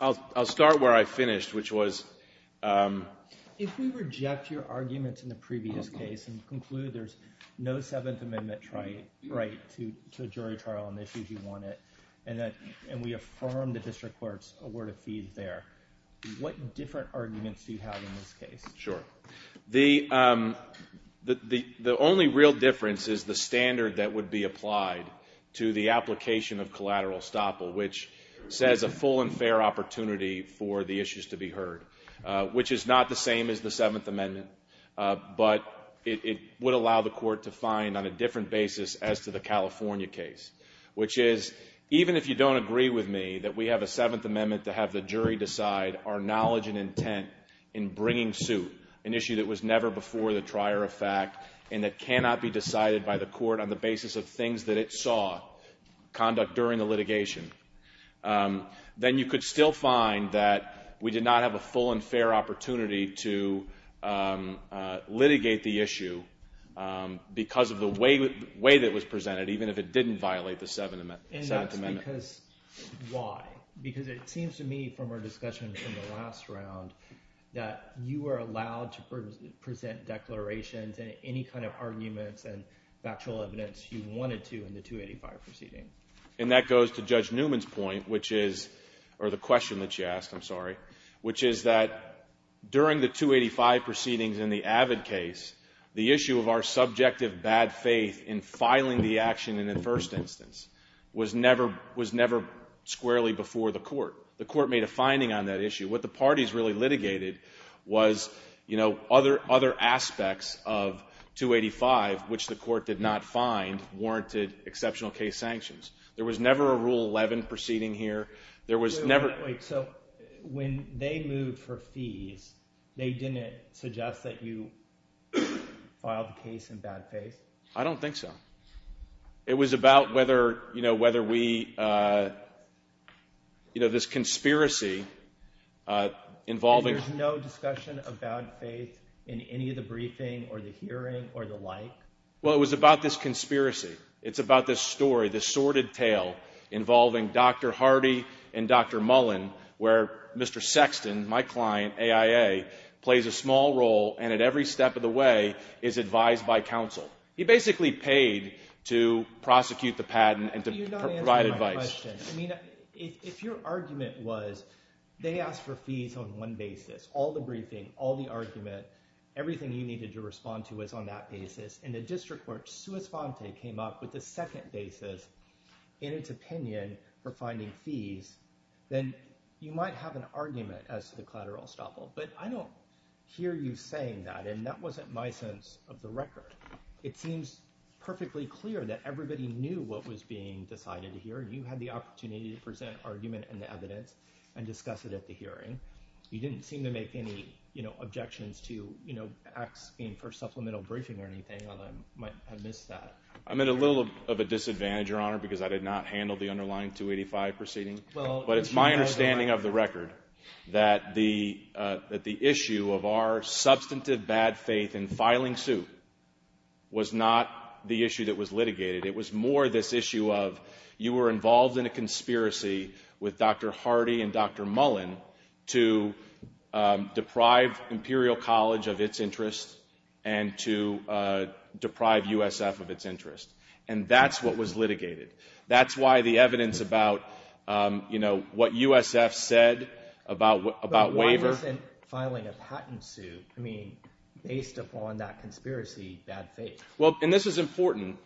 I'll start where I finished, which was, if we reject your arguments in the previous case and conclude there's no Seventh Amendment right to a jury trial on the issues you wanted, and we affirm the district court's award of fees there, what different arguments do you have in this case? Sure. The only real difference is the standard that would be applied to the application of collateral estoppel, which says a full and fair opportunity for the issues to be heard, which is not the Seventh Amendment, but it would allow the court to find on a different basis as to the California case, which is, even if you don't agree with me that we have a Seventh Amendment to have the jury decide our knowledge and intent in bringing suit an issue that was never before the trier of fact and that cannot be decided by the court on the basis of things that it saw conduct during the litigation, then you could still find that we did not have a full and fair opportunity to litigate the issue because of the way that it was presented, even if it didn't violate the Seventh Amendment. And that's because, why? Because it seems to me from our discussion from the last round that you were allowed to present declarations and any kind of arguments and factual evidence you wanted to in the 285 proceeding. And that goes to Judge Newman's point, which is, or the question that she asked, I'm sorry, which is that during the 285 proceedings in the Avid case, the issue of our subjective bad faith in filing the action in the first instance was never squarely before the court. The court made a finding on that issue. What the parties really litigated was, you know, other aspects of 285, which the court did not find warranted exceptional case sanctions. There was never a Rule 11 proceeding here. There was never... Wait. So when they moved for fees, they didn't suggest that you filed the case in bad faith? I don't think so. It was about whether, you know, whether we, you know, this conspiracy involving... There's no discussion of bad faith in any of the briefing or the hearing or the like? Well, it was about this conspiracy. It's about this story, this sordid tale involving Dr. Hardy and Dr. Mullen, where Mr. Sexton, my client, AIA, plays a small role and at every step of the way is advised by counsel. He basically paid to prosecute the patent and to provide advice. You're not answering my question. I mean, if your argument was they asked for fees on one basis, all the briefing, all the evidence, and the district court, sua sponte, came up with a second basis in its opinion for finding fees, then you might have an argument as to the collateral estoppel. But I don't hear you saying that, and that wasn't my sense of the record. It seems perfectly clear that everybody knew what was being decided here, and you had the opportunity to present argument and the evidence and discuss it at the hearing. You didn't seem to make any, you know, objections to, you know, acts being for supplemental briefing or anything, although I might have missed that. I'm at a little of a disadvantage, Your Honor, because I did not handle the underlying 285 proceeding, but it's my understanding of the record that the issue of our substantive bad faith in filing suit was not the issue that was litigated. It was more this issue of you were involved in a conspiracy with Dr. Hardy and Dr. Mullen to deprive Imperial College of its interest and to deprive USF of its interest. And that's what was litigated. That's why the evidence about, you know, what USF said about waiver. But why wasn't filing a patent suit, I mean, based upon that conspiracy, bad faith? Well, and this is important.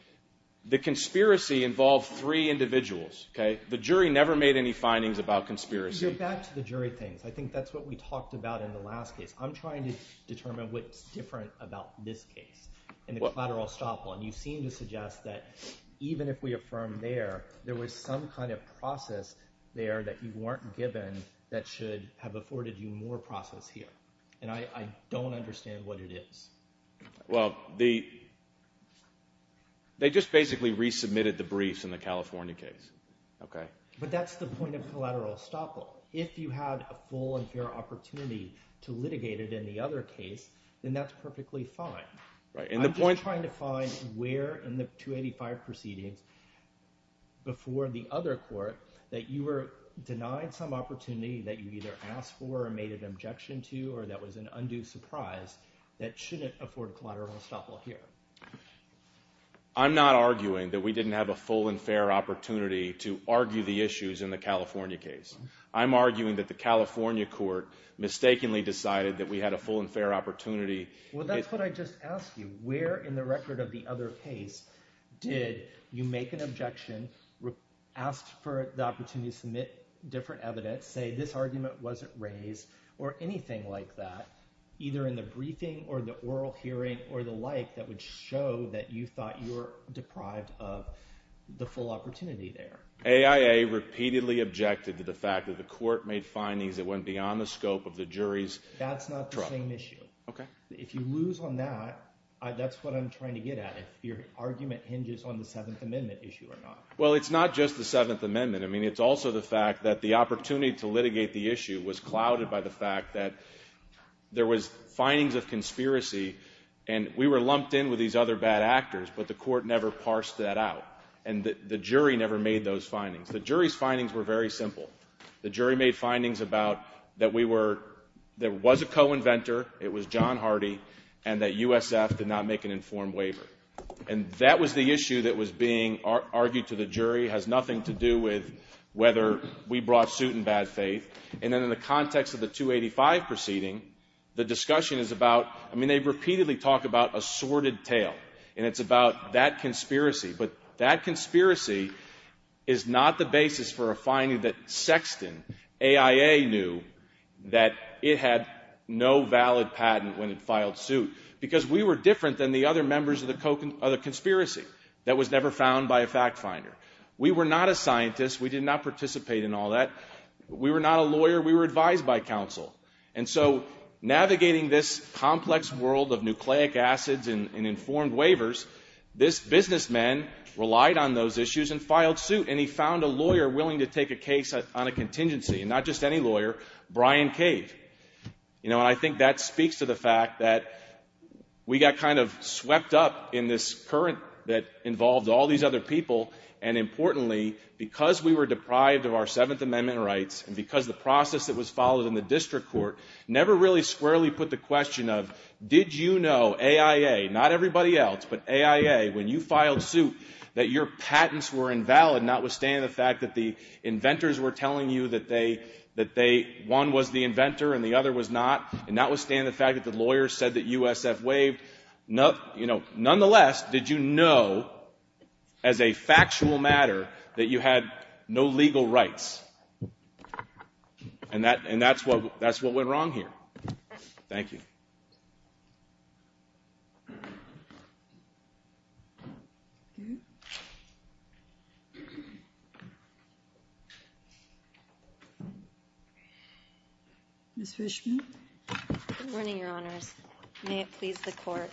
The conspiracy involved three individuals, okay? The jury never made any findings about conspiracy. You're back to the jury things. I think that's what we talked about in the last case. I'm trying to determine what's different about this case in the collateral estoppel, and you seem to suggest that even if we affirm there, there was some kind of process there that you weren't given that should have afforded you more process here. And I don't understand what it is. Well, they just basically resubmitted the briefs in the California case, okay? But that's the point of collateral estoppel. If you had a full and fair opportunity to litigate it in the other case, then that's perfectly fine. I'm just trying to find where in the 285 proceedings before the other court that you were denied some opportunity that you either asked for or made an objection to or that was an undue surprise that shouldn't afford collateral estoppel here. I'm not arguing that we didn't have a full and fair opportunity to argue the issues in the California case. I'm arguing that the California court mistakenly decided that we had a full and fair opportunity. Well, that's what I just asked you. Where in the record of the other case did you make an objection, asked for the opportunity to submit different evidence, say this argument wasn't raised or anything like that, either in the briefing or the oral hearing or the like that would show that you thought you were deprived of the full opportunity there? AIA repeatedly objected to the fact that the court made findings that went beyond the scope of the jury's trial. That's not the same issue. If you lose on that, that's what I'm trying to get at, if your argument hinges on the Seventh Amendment issue or not. Well, it's not just the Seventh Amendment. I mean, it's also the fact that the opportunity to litigate the issue was clouded by the fact that there was findings of conspiracy, and we were lumped in with these other bad actors, but the court never parsed that out, and the jury never made those findings. The jury's findings were very simple. The jury made findings about that we were, there was a co-inventor, it was John Hardy, and that USF did not make an informed waiver. And that was the issue that was being argued to the jury, has nothing to do with whether we brought suit in bad faith. And then in the context of the 285 proceeding, the discussion is about, I mean, they repeatedly talk about a sordid tale, and it's about that conspiracy. But that conspiracy is not the basis for a finding that Sexton, AIA knew, that it had no valid patent when it filed suit, because we were different than the other members of the conspiracy that was never found by a fact finder. We were not a scientist. We did not participate in all that. We were not a lawyer. We were advised by counsel. And so navigating this complex world of nucleic acids and informed waivers, this businessman relied on those issues and filed suit, and he found a lawyer willing to take a case on a contingency, and not just any lawyer, Brian Cave. You know, and I think that speaks to the fact that we got kind of swept up in this current that involved all these other people, and importantly, because we were deprived of our Seventh Amendment rights, and because the process that was followed in the district court never really squarely put the question of, did you know, AIA, not everybody else, but AIA, when you filed suit, that your patents were invalid, notwithstanding the fact that the inventors were telling you that they, that they, one was the inventor and the other was not, and notwithstanding the fact that the lawyers said that USF waived, you know, And that, and that's what, that's what went wrong here. Thank you. Ms. Fishman. Good morning, Your Honors. May it please the Court.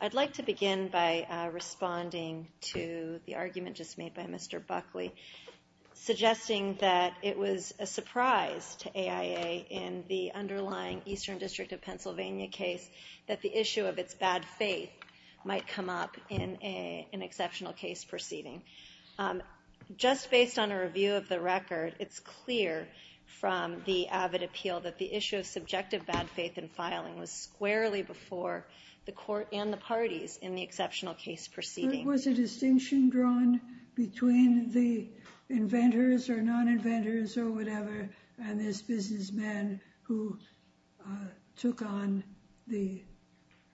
I'd like to begin by responding to the argument just made by Mr. Buckley, suggesting that it was a surprise to AIA in the underlying Eastern District of Pennsylvania case that the issue of its bad faith might come up in an exceptional case proceeding. Just based on a review of the record, it's clear from the avid appeal that the issue of subjective bad faith in filing was squarely before the Court and the parties in the exceptional case proceeding. Was a distinction drawn between the inventors or non-inventors or whatever and this businessman who took on the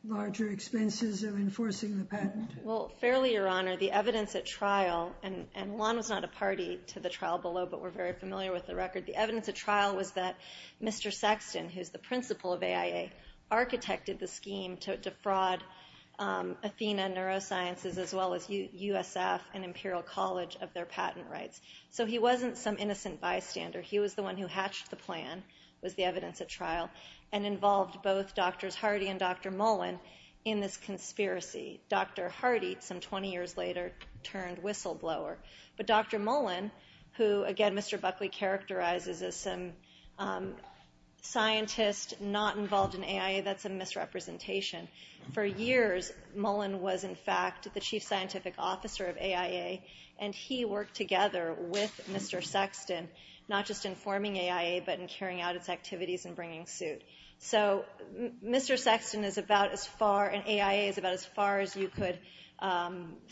larger expenses of enforcing the patent? Well, fairly, Your Honor, the evidence at trial, and Juan was not a party to the trial below, but we're very familiar with the record. The evidence at trial was that Mr. Sexton, who's the principal of AIA, architected the scheme to defraud Athena Neurosciences as well as USF and Imperial College of their patent rights. So he wasn't some innocent bystander. He was the one who hatched the plan, was the evidence at trial, and involved both Drs. Hardy and Dr. Mullen in this conspiracy. Dr. Hardy, some 20 years later, turned whistleblower, but Dr. Mullen, who, again, Mr. Buckley characterized as some scientist not involved in AIA, that's a misrepresentation. For years, Mullen was, in fact, the chief scientific officer of AIA, and he worked together with Mr. Sexton, not just in forming AIA, but in carrying out its activities and bringing suit. So Mr. Sexton is about as far, and AIA is about as far as you could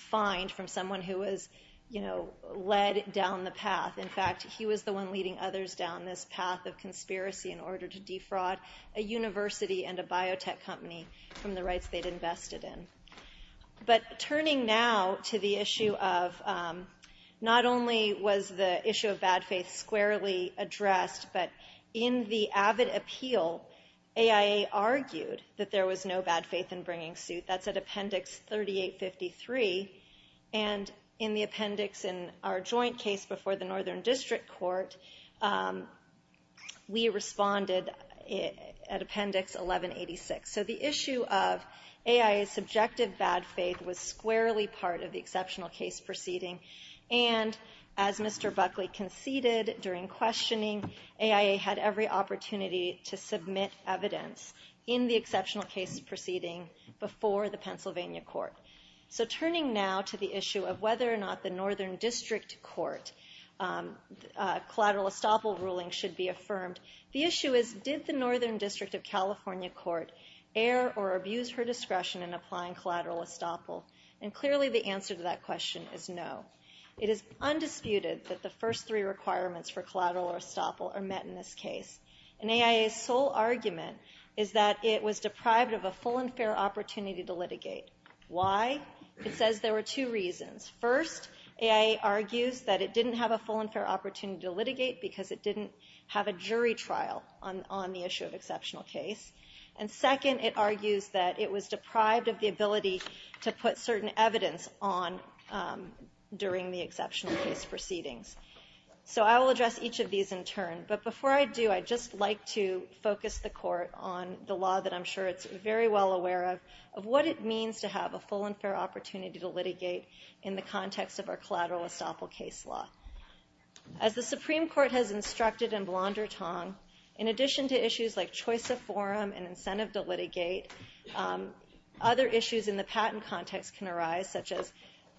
find from someone who was, you know, led down the path. In fact, he was the one leading others down this path of conspiracy in order to defraud a university and a biotech company from the rights they'd invested in. But turning now to the issue of, not only was the issue of bad faith squarely addressed, but in the avid appeal, AIA argued that there was no bad faith in bringing suit. That's at Appendix 3853. And in the appendix in our joint case before the Northern District Court, we responded at Appendix 1186. So the issue of AIA's subjective bad faith was squarely part of the exceptional case proceeding, and as Mr. Buckley conceded during questioning, AIA had every opportunity to ignore the Pennsylvania court. So turning now to the issue of whether or not the Northern District Court collateral estoppel ruling should be affirmed, the issue is, did the Northern District of California Court err or abuse her discretion in applying collateral estoppel? And clearly the answer to that question is no. It is undisputed that the first three requirements for collateral estoppel are met in this case. And AIA's sole argument is that it was deprived of a full and fair opportunity to litigate. Why? It says there were two reasons. First, AIA argues that it didn't have a full and fair opportunity to litigate because it didn't have a jury trial on the issue of exceptional case. And second, it argues that it was deprived of the ability to put certain evidence on during the exceptional case proceedings. So I will address each of these in turn. But before I do, I'd just like to focus the court on the law that I'm sure it's very well aware of, of what it means to have a full and fair opportunity to litigate in the context of our collateral estoppel case law. As the Supreme Court has instructed in Blondertongue, in addition to issues like choice of forum and incentive to litigate, other issues in the patent context can arise, such as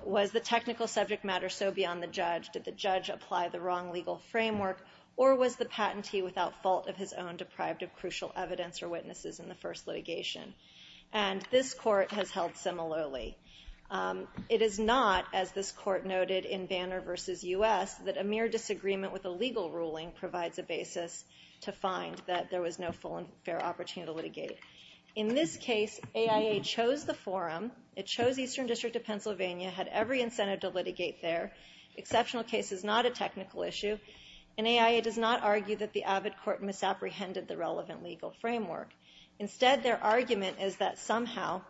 was the technical subject matter so beyond the judge? Did the judge apply the wrong legal framework? Or was the patentee without fault of his own deprived of crucial evidence or witnesses in the first litigation? And this court has held similarly. It is not, as this court noted in Banner v. U.S., that a mere disagreement with a legal ruling provides a basis to find that there was no full and fair opportunity to litigate. In this case, AIA chose the forum. It chose Eastern District of Pennsylvania, had every incentive to litigate there. Exceptional case is not a technical issue. And AIA does not argue that the AVID court misapprehended the relevant legal framework. Instead, their argument is that somehow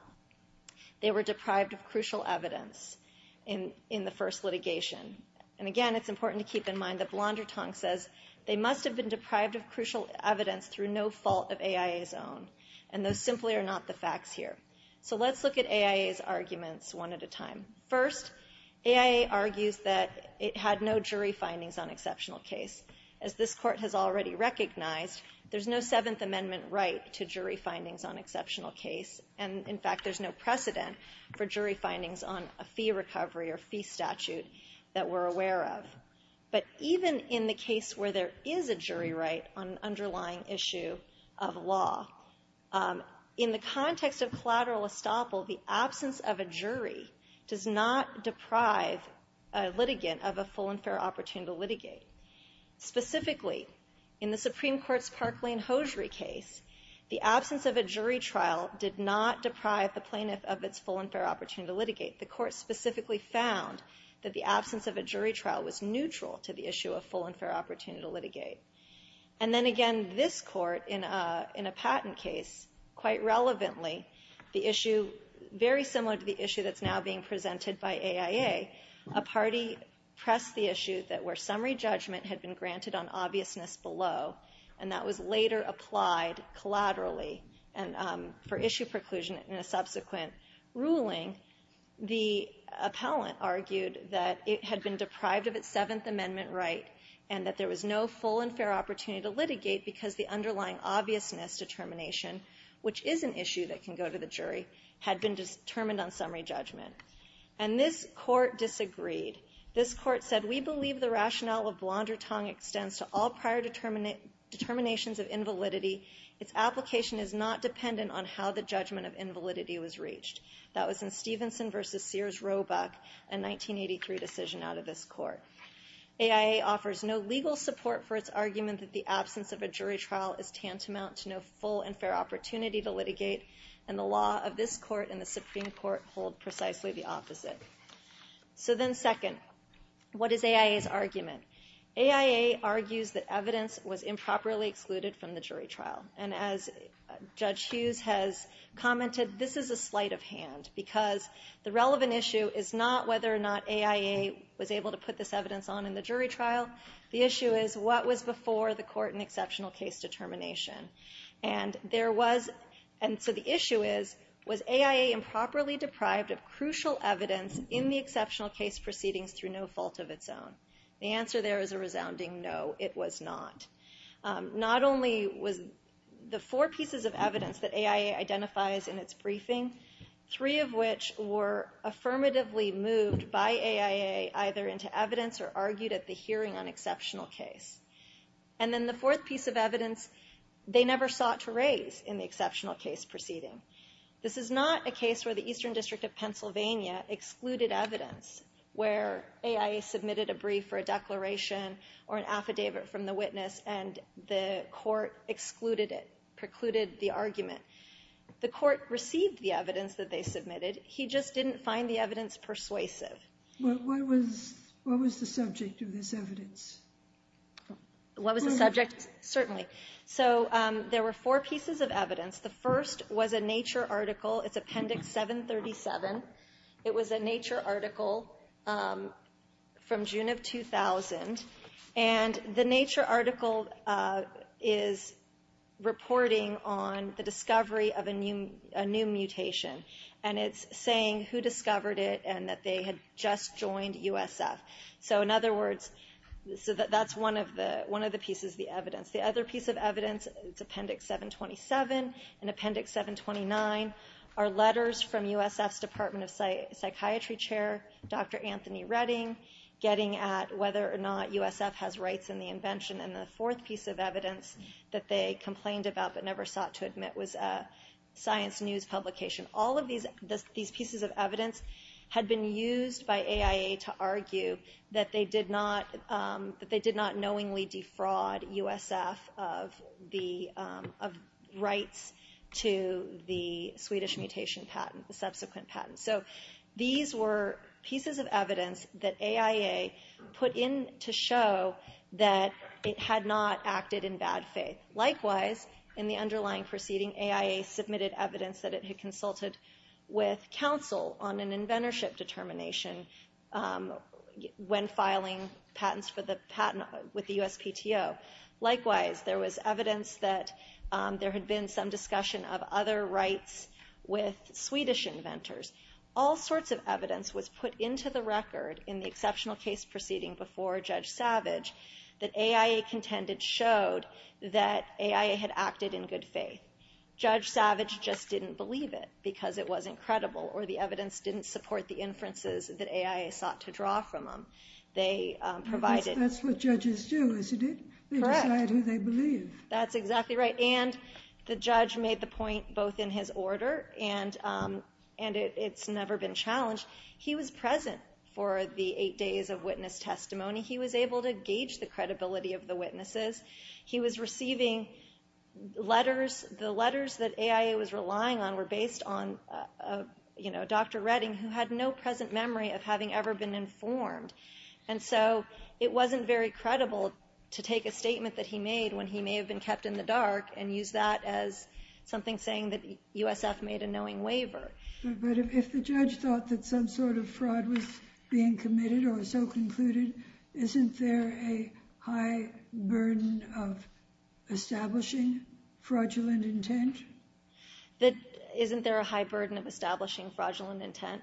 they were deprived of crucial evidence in the first litigation. And again, it's important to keep in mind that Blondertongue says they must have been deprived of crucial evidence through no fault of AIA's own. And those simply are not the facts here. So let's look at AIA's arguments one at a time. First, AIA argues that it had no jury findings on exceptional case. As this court has already recognized, there's no Seventh Amendment right to jury findings on exceptional case. And in fact, there's no precedent for jury findings on a fee recovery or fee statute that we're aware of. But even in the case where there is a jury right on an underlying issue of law, in the Supreme Court's Parkland-Hosiery case, the absence of a jury trial did not deprive the plaintiff of its full and fair opportunity to litigate. The court specifically found that the absence of a jury trial was neutral to the issue of full and fair opportunity to litigate. And then again, this court, in a patent case, quite relevantly, the issue very similar to the issue that's now being presented by AIA, a party pressed the issue that where summary judgment had been granted on obviousness below, and that was later applied collaterally for issue preclusion in a subsequent ruling, the appellant argued that it had been deprived of its Seventh Amendment right and that there was no full and fair opportunity to litigate because the underlying obviousness determination, which is an issue that can go to the jury, had been determined on summary judgment. And this court disagreed. This court said, we believe the rationale of Blondertong extends to all prior determinations of invalidity. Its application is not dependent on how the judgment of invalidity was reached. That was in Stevenson versus Sears-Roebuck, a 1983 decision out of this court. AIA offers no legal support for its argument that the absence of a jury trial is tantamount to no full and fair opportunity to litigate, and the law of this court and the Supreme Court hold precisely the opposite. So then second, what is AIA's argument? AIA argues that evidence was improperly excluded from the jury trial. And as Judge Hughes has commented, this is a sleight of hand because the relevant issue is not whether or not AIA was able to put this evidence on in the jury trial. The issue is, what was before the court and exceptional case determination? And there was, and so the issue is, was AIA improperly deprived of crucial evidence in the exceptional case proceedings through no fault of its own? The answer there is a resounding no, it was not. Not only was the four pieces of evidence that AIA identifies in its briefing, three of which were affirmatively moved by AIA either into evidence or argued at the hearing on exceptional case. And then the fourth piece of evidence they never sought to raise in the exceptional case proceeding. This is not a case where the Eastern District of Pennsylvania excluded evidence, where AIA submitted a brief or a declaration or an affidavit from the witness and the court excluded it, precluded the argument. The court received the evidence that they submitted. He just didn't find the evidence persuasive. What was the subject of this evidence? What was the subject? Certainly. So there were four pieces of evidence. The first was a Nature article. It's Appendix 737. It was a Nature article from June of 2000. And the Nature article is reporting on the discovery of a new mutation. And it's saying who discovered it and that they had just joined USF. So in other words, that's one of the pieces of the evidence. The other piece of evidence, it's Appendix 727 and Appendix 729, are letters from USF's Department of Psychiatry Chair, Dr. Anthony Redding, getting at whether or not USF has rights in the invention. And the fourth piece of evidence that they complained about but never sought to admit was a Science News publication. All of these pieces of evidence had been used by AIA to argue that they did not knowingly fraud USF of rights to the Swedish mutation patent, the subsequent patent. So these were pieces of evidence that AIA put in to show that it had not acted in bad faith. Likewise, in the underlying proceeding, AIA submitted evidence that it had consulted with CTO. Likewise, there was evidence that there had been some discussion of other rights with Swedish inventors. All sorts of evidence was put into the record in the exceptional case proceeding before Judge Savage that AIA contended showed that AIA had acted in good faith. Judge Savage just didn't believe it because it wasn't credible or the evidence didn't support the inferences that AIA sought to draw from them. They provided... That's what judges do, isn't it? Correct. They decide who they believe. That's exactly right. And the judge made the point both in his order and it's never been challenged. He was present for the eight days of witness testimony. He was able to gauge the credibility of the witnesses. He was receiving letters. The letters that AIA was relying on were based on Dr. Redding who had no present memory of having ever been informed. And so it wasn't very credible to take a statement that he made when he may have been kept in the dark and use that as something saying that USF made a knowing waiver. But if the judge thought that some sort of fraud was being committed or so concluded, isn't there a high burden of establishing fraudulent intent? Isn't there a high burden of establishing fraudulent intent?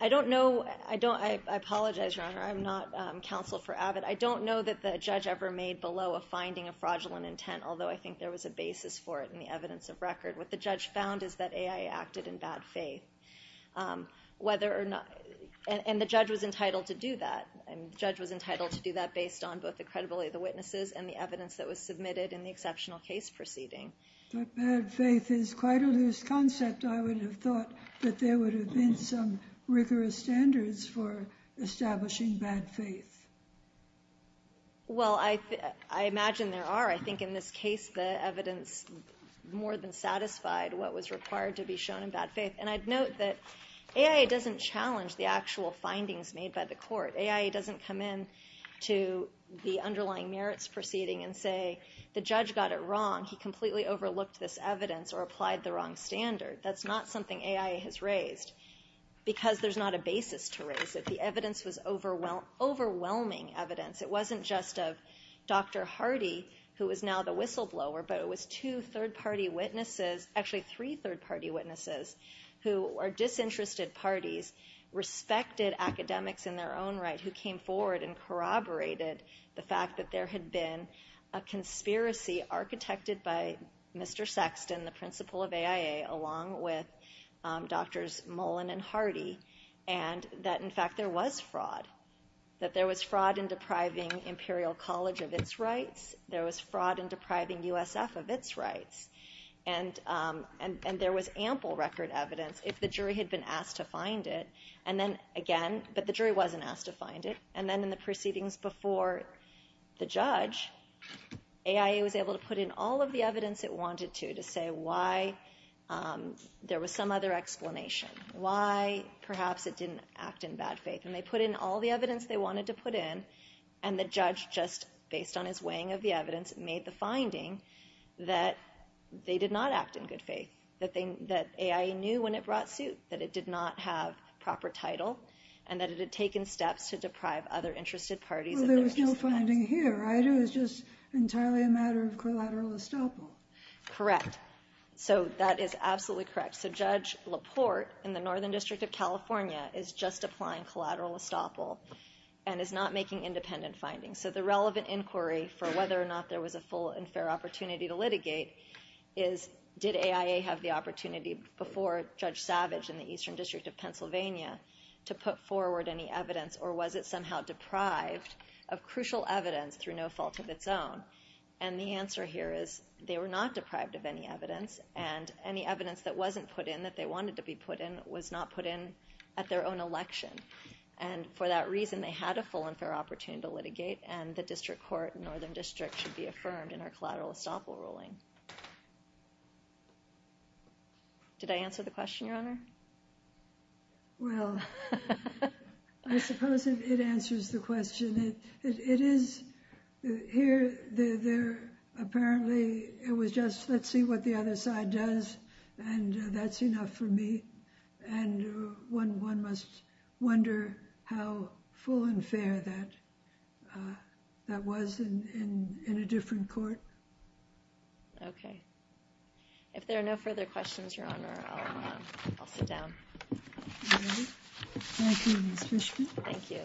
I don't know. I don't... I apologize, Your Honor. I'm not counsel for Abbott. I don't know that the judge ever made below a finding of fraudulent intent, although I think there was a basis for it in the evidence of record. What the judge found is that AIA acted in bad faith, whether or not... And the judge was entitled to do that. And the judge was entitled to do that based on both the credibility of the witnesses and the evidence that was submitted in the exceptional case proceeding. But bad faith is quite a loose concept. I would have thought that there would have been some rigorous standards for establishing bad faith. Well, I imagine there are. I think in this case, the evidence more than satisfied what was required to be shown in bad faith. And I'd note that AIA doesn't challenge the actual findings made by the court. AIA doesn't come in to the underlying merits proceeding and say, the judge got it wrong. He completely overlooked this evidence or applied the wrong standard. That's not something AIA has raised because there's not a basis to raise it. The evidence was overwhelming evidence. It wasn't just of Dr. Hardy, who is now the whistleblower, but it was two third-party witnesses, actually three third-party witnesses, who are disinterested parties, respected academics in their own right, who came forward and corroborated the fact that there had been a conspiracy architected by Mr. Sexton, the principal of AIA, along with Drs. Mullen and Hardy. And that, in fact, there was fraud. That there was fraud in depriving Imperial College of its rights. There was fraud in depriving USF of its rights. And there was ample record evidence, if the jury had been asked to find it. And then, again, but the jury wasn't asked to find it. And then in the proceedings before the judge, AIA was able to put in all of the evidence it wanted to, to say why there was some other explanation, why perhaps it didn't act in bad faith. And they put in all the evidence they wanted to put in, and the judge, just based on his weighing of the evidence, made the finding that they did not act in good faith, that AIA knew when it brought suit, that it did not have proper title, and that it had taken steps to deprive other interested parties of their rights. Well, there was no finding here, right? It was just entirely a matter of collateral estoppel. Correct. So that is absolutely correct. So Judge Laporte, in the Northern District of California, is just applying collateral estoppel and is not making independent findings. So the relevant inquiry for whether or not there was a full and fair opportunity to litigate is did AIA have the opportunity before Judge Savage in the Eastern District of Pennsylvania to put forward any evidence, or was it somehow deprived of crucial evidence through no fault of its own? And the answer here is they were not deprived of any evidence, and any evidence that wasn't put in that they wanted to be put in was not put in at their own election. And for that reason, they had a full and fair opportunity to litigate, and the District Court in Northern District should be affirmed in our collateral estoppel ruling. Did I answer the question, Your Honor? Well, I suppose it answers the question. It is, here, apparently, it was just, let's see what the other side does, and that's enough for me. And one must wonder how full and fair that was in a different court. Okay. If there are no further questions, Your Honor, I'll sit down. All right. Thank you, Ms. Fishman. Thank you.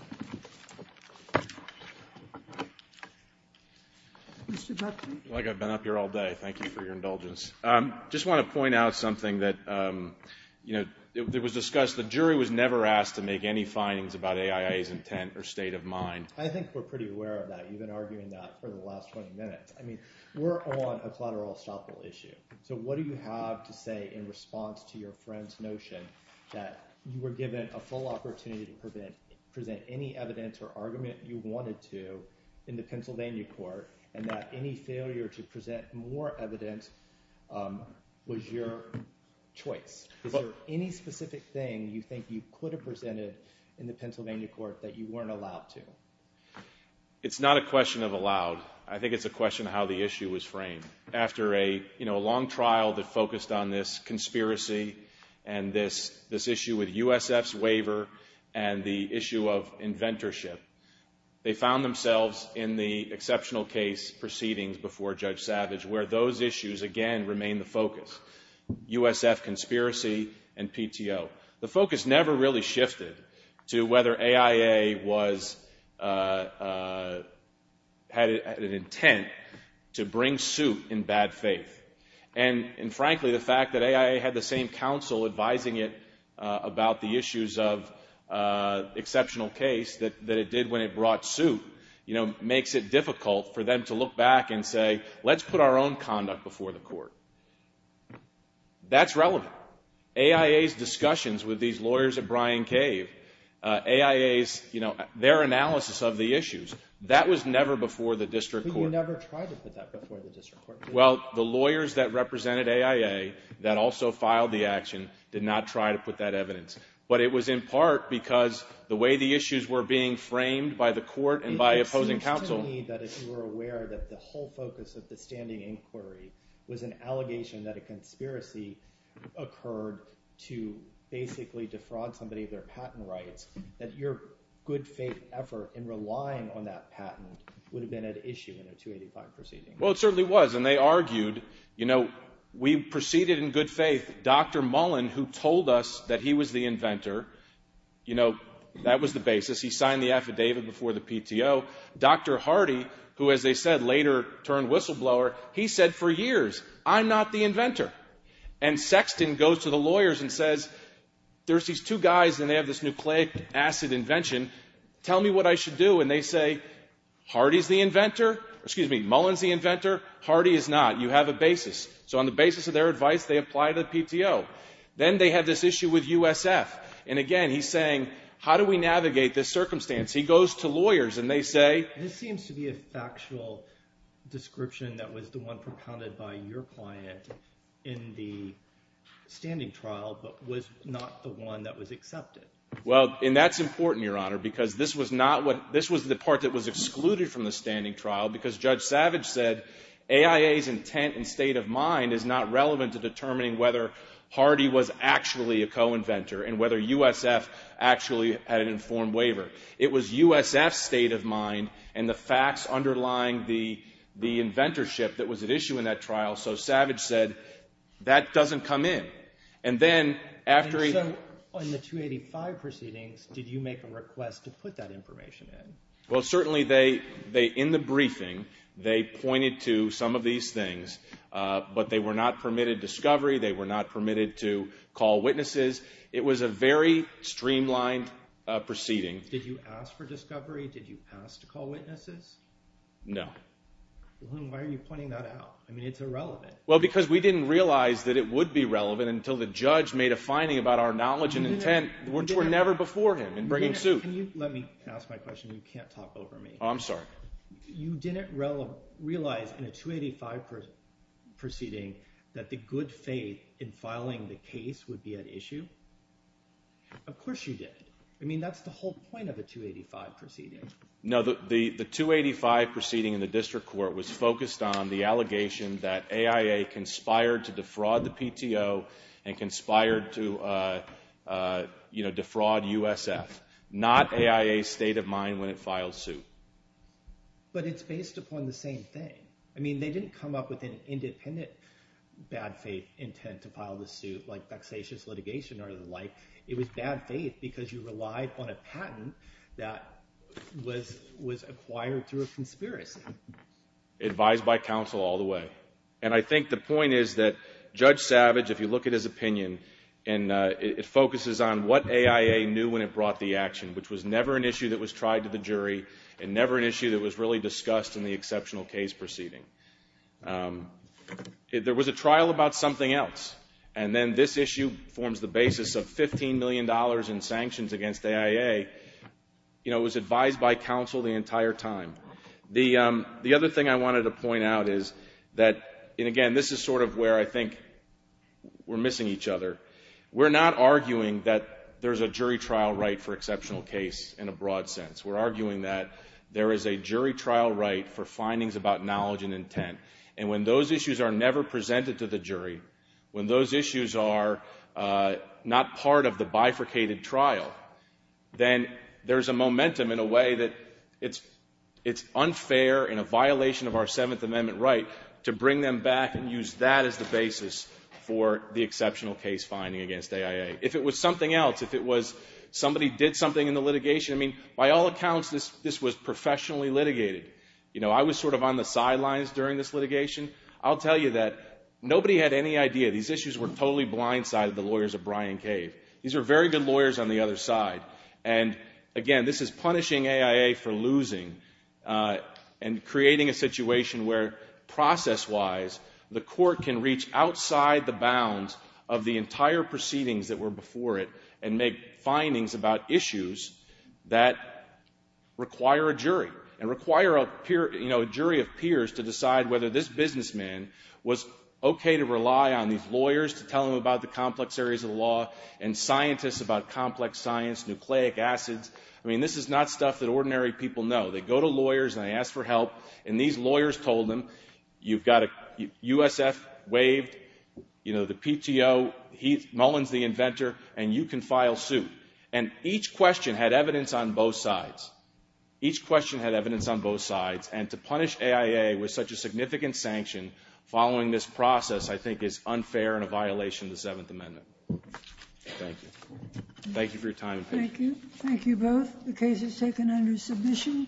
Mr. Buckley? I feel like I've been up here all day. Thank you for your indulgence. I just want to point out something that was discussed. The jury was never asked to make any findings about AIA's intent or state of mind. I think we're pretty aware of that. You've been arguing that for the last 20 minutes. I mean, we're on a collateral estoppel issue, so what do you have to say in response to your friend's notion that you were given a full opportunity to present any evidence or argument you wanted to in the Pennsylvania court, and that any failure to present more evidence was your choice? Is there any specific thing you think you could have presented in the Pennsylvania court that you weren't allowed to? It's not a question of allowed. I think it's a question of how the issue was framed. After a long trial that focused on this conspiracy and this issue with USF's waiver and the issue of inventorship, they found themselves in the exceptional case proceedings before Judge Savage, where those issues, again, remain the focus. USF conspiracy and PTO. The focus never really shifted to whether AIA had an intent to bring suit in bad faith. And frankly, the fact that AIA had the same counsel advising it about the issues of exceptional case that it did when it brought suit makes it difficult for them to look back and say, let's put our own conduct before the court. That's relevant. Now, AIA's discussions with these lawyers at Bryan Cave, AIA's, you know, their analysis of the issues, that was never before the district court. But you never tried to put that before the district court? Well, the lawyers that represented AIA that also filed the action did not try to put that evidence. But it was in part because the way the issues were being framed by the court and by opposing counsel. It seems to me that if you were aware that the whole focus of the standing inquiry was an allegation that a conspiracy occurred to basically defraud somebody of their patent rights, that your good faith effort in relying on that patent would have been at issue in a 285 proceeding. Well, it certainly was. And they argued, you know, we proceeded in good faith. Dr. Mullen, who told us that he was the inventor, you know, that was the basis. He signed the affidavit before the PTO. Dr. Hardy, who, as they said, later turned whistleblower, he said, for years, I'm not the inventor. And Sexton goes to the lawyers and says, there's these two guys and they have this nucleic acid invention. Tell me what I should do. And they say, Hardy's the inventor. Excuse me, Mullen's the inventor. Hardy is not. You have a basis. So on the basis of their advice, they apply to the PTO. Then they have this issue with USF. And, again, he's saying, how do we navigate this circumstance? He goes to lawyers and they say. This seems to be a factual description that was the one propounded by your client in the standing trial but was not the one that was accepted. Well, and that's important, Your Honor, because this was not what, this was the part that was excluded from the standing trial because Judge Savage said, AIA's intent and state of mind is not relevant to determining whether Hardy was actually a co-inventor and whether USF actually had an informed waiver. It was USF's state of mind and the facts underlying the inventorship that was at issue in that trial. So Savage said, That doesn't come in. And then after he. And so on the 285 proceedings, did you make a request to put that information in? Well, certainly they, in the briefing, they pointed to some of these things, but they were not permitted discovery. They were not permitted to call witnesses. It was a very streamlined proceeding. Did you ask for discovery? Did you ask to call witnesses? No. Why are you pointing that out? I mean, it's irrelevant. Well, because we didn't realize that it would be relevant until the judge made a finding about our knowledge and intent which were never before him in bringing suit. Let me ask my question. You can't talk over me. I'm sorry. You didn't realize in a 285 proceeding that the good faith in filing the case would be that issue? Of course you did. I mean, that's the whole point of a 285 proceeding. No, the 285 proceeding in the district court was focused on the allegation that AIA conspired to defraud the PTO and conspired to defraud USF, not AIA's state of mind when it filed suit. But it's based upon the same thing. I mean, they didn't come up with an independent bad faith intent to file the suit like vexatious litigation or the like. It was bad faith because you relied on a patent that was acquired through a conspiracy. Advised by counsel all the way. And I think the point is that Judge Savage, if you look at his opinion, and it focuses on what AIA knew when it brought the action, which was never an issue that was tried to the jury and never an issue that was really discussed in the exceptional case proceeding. There was a trial about something else. And then this issue forms the basis of $15 million in sanctions against AIA. You know, it was advised by counsel the entire time. The other thing I wanted to point out is that, and again, this is sort of where I think we're missing each other. We're not arguing that there's a jury trial right for exceptional case in a broad sense. We're arguing that there is a jury trial right for findings about knowledge and intent. And when those issues are never presented to the jury, when those issues are not part of the bifurcated trial, then there's a momentum in a way that it's unfair and a violation of our Seventh Amendment right to bring them back and use that as the basis for the exceptional case finding against AIA. If it was something else, if it was somebody did something in the litigation, I mean, by all accounts, this was professionally litigated. You know, I was sort of on the sidelines during this litigation. I'll tell you that nobody had any idea. These issues were totally blindsided, the lawyers of Brian Cave. These are very good lawyers on the other side. And, again, this is punishing AIA for losing and creating a situation where, process wise, the court can reach outside the bounds of the entire proceedings that were before it and make findings about issues that require a jury and require a jury of peers to decide whether this businessman was okay to rely on these lawyers to tell them about the complex areas of the law and scientists about complex science, nucleic acids. I mean, this is not stuff that ordinary people know. They go to lawyers and they ask for help. And these lawyers told them, you've got a USF waived, you know, the PTO, Mullins the inventor, and you can file suit. And each question had evidence on both sides. Each question had evidence on both sides. And to punish AIA with such a significant sanction following this process, I think, is unfair and a violation of the Seventh Amendment. Thank you. Thank you for your time and patience. Thank you. Thank you both. The case is taken under submission.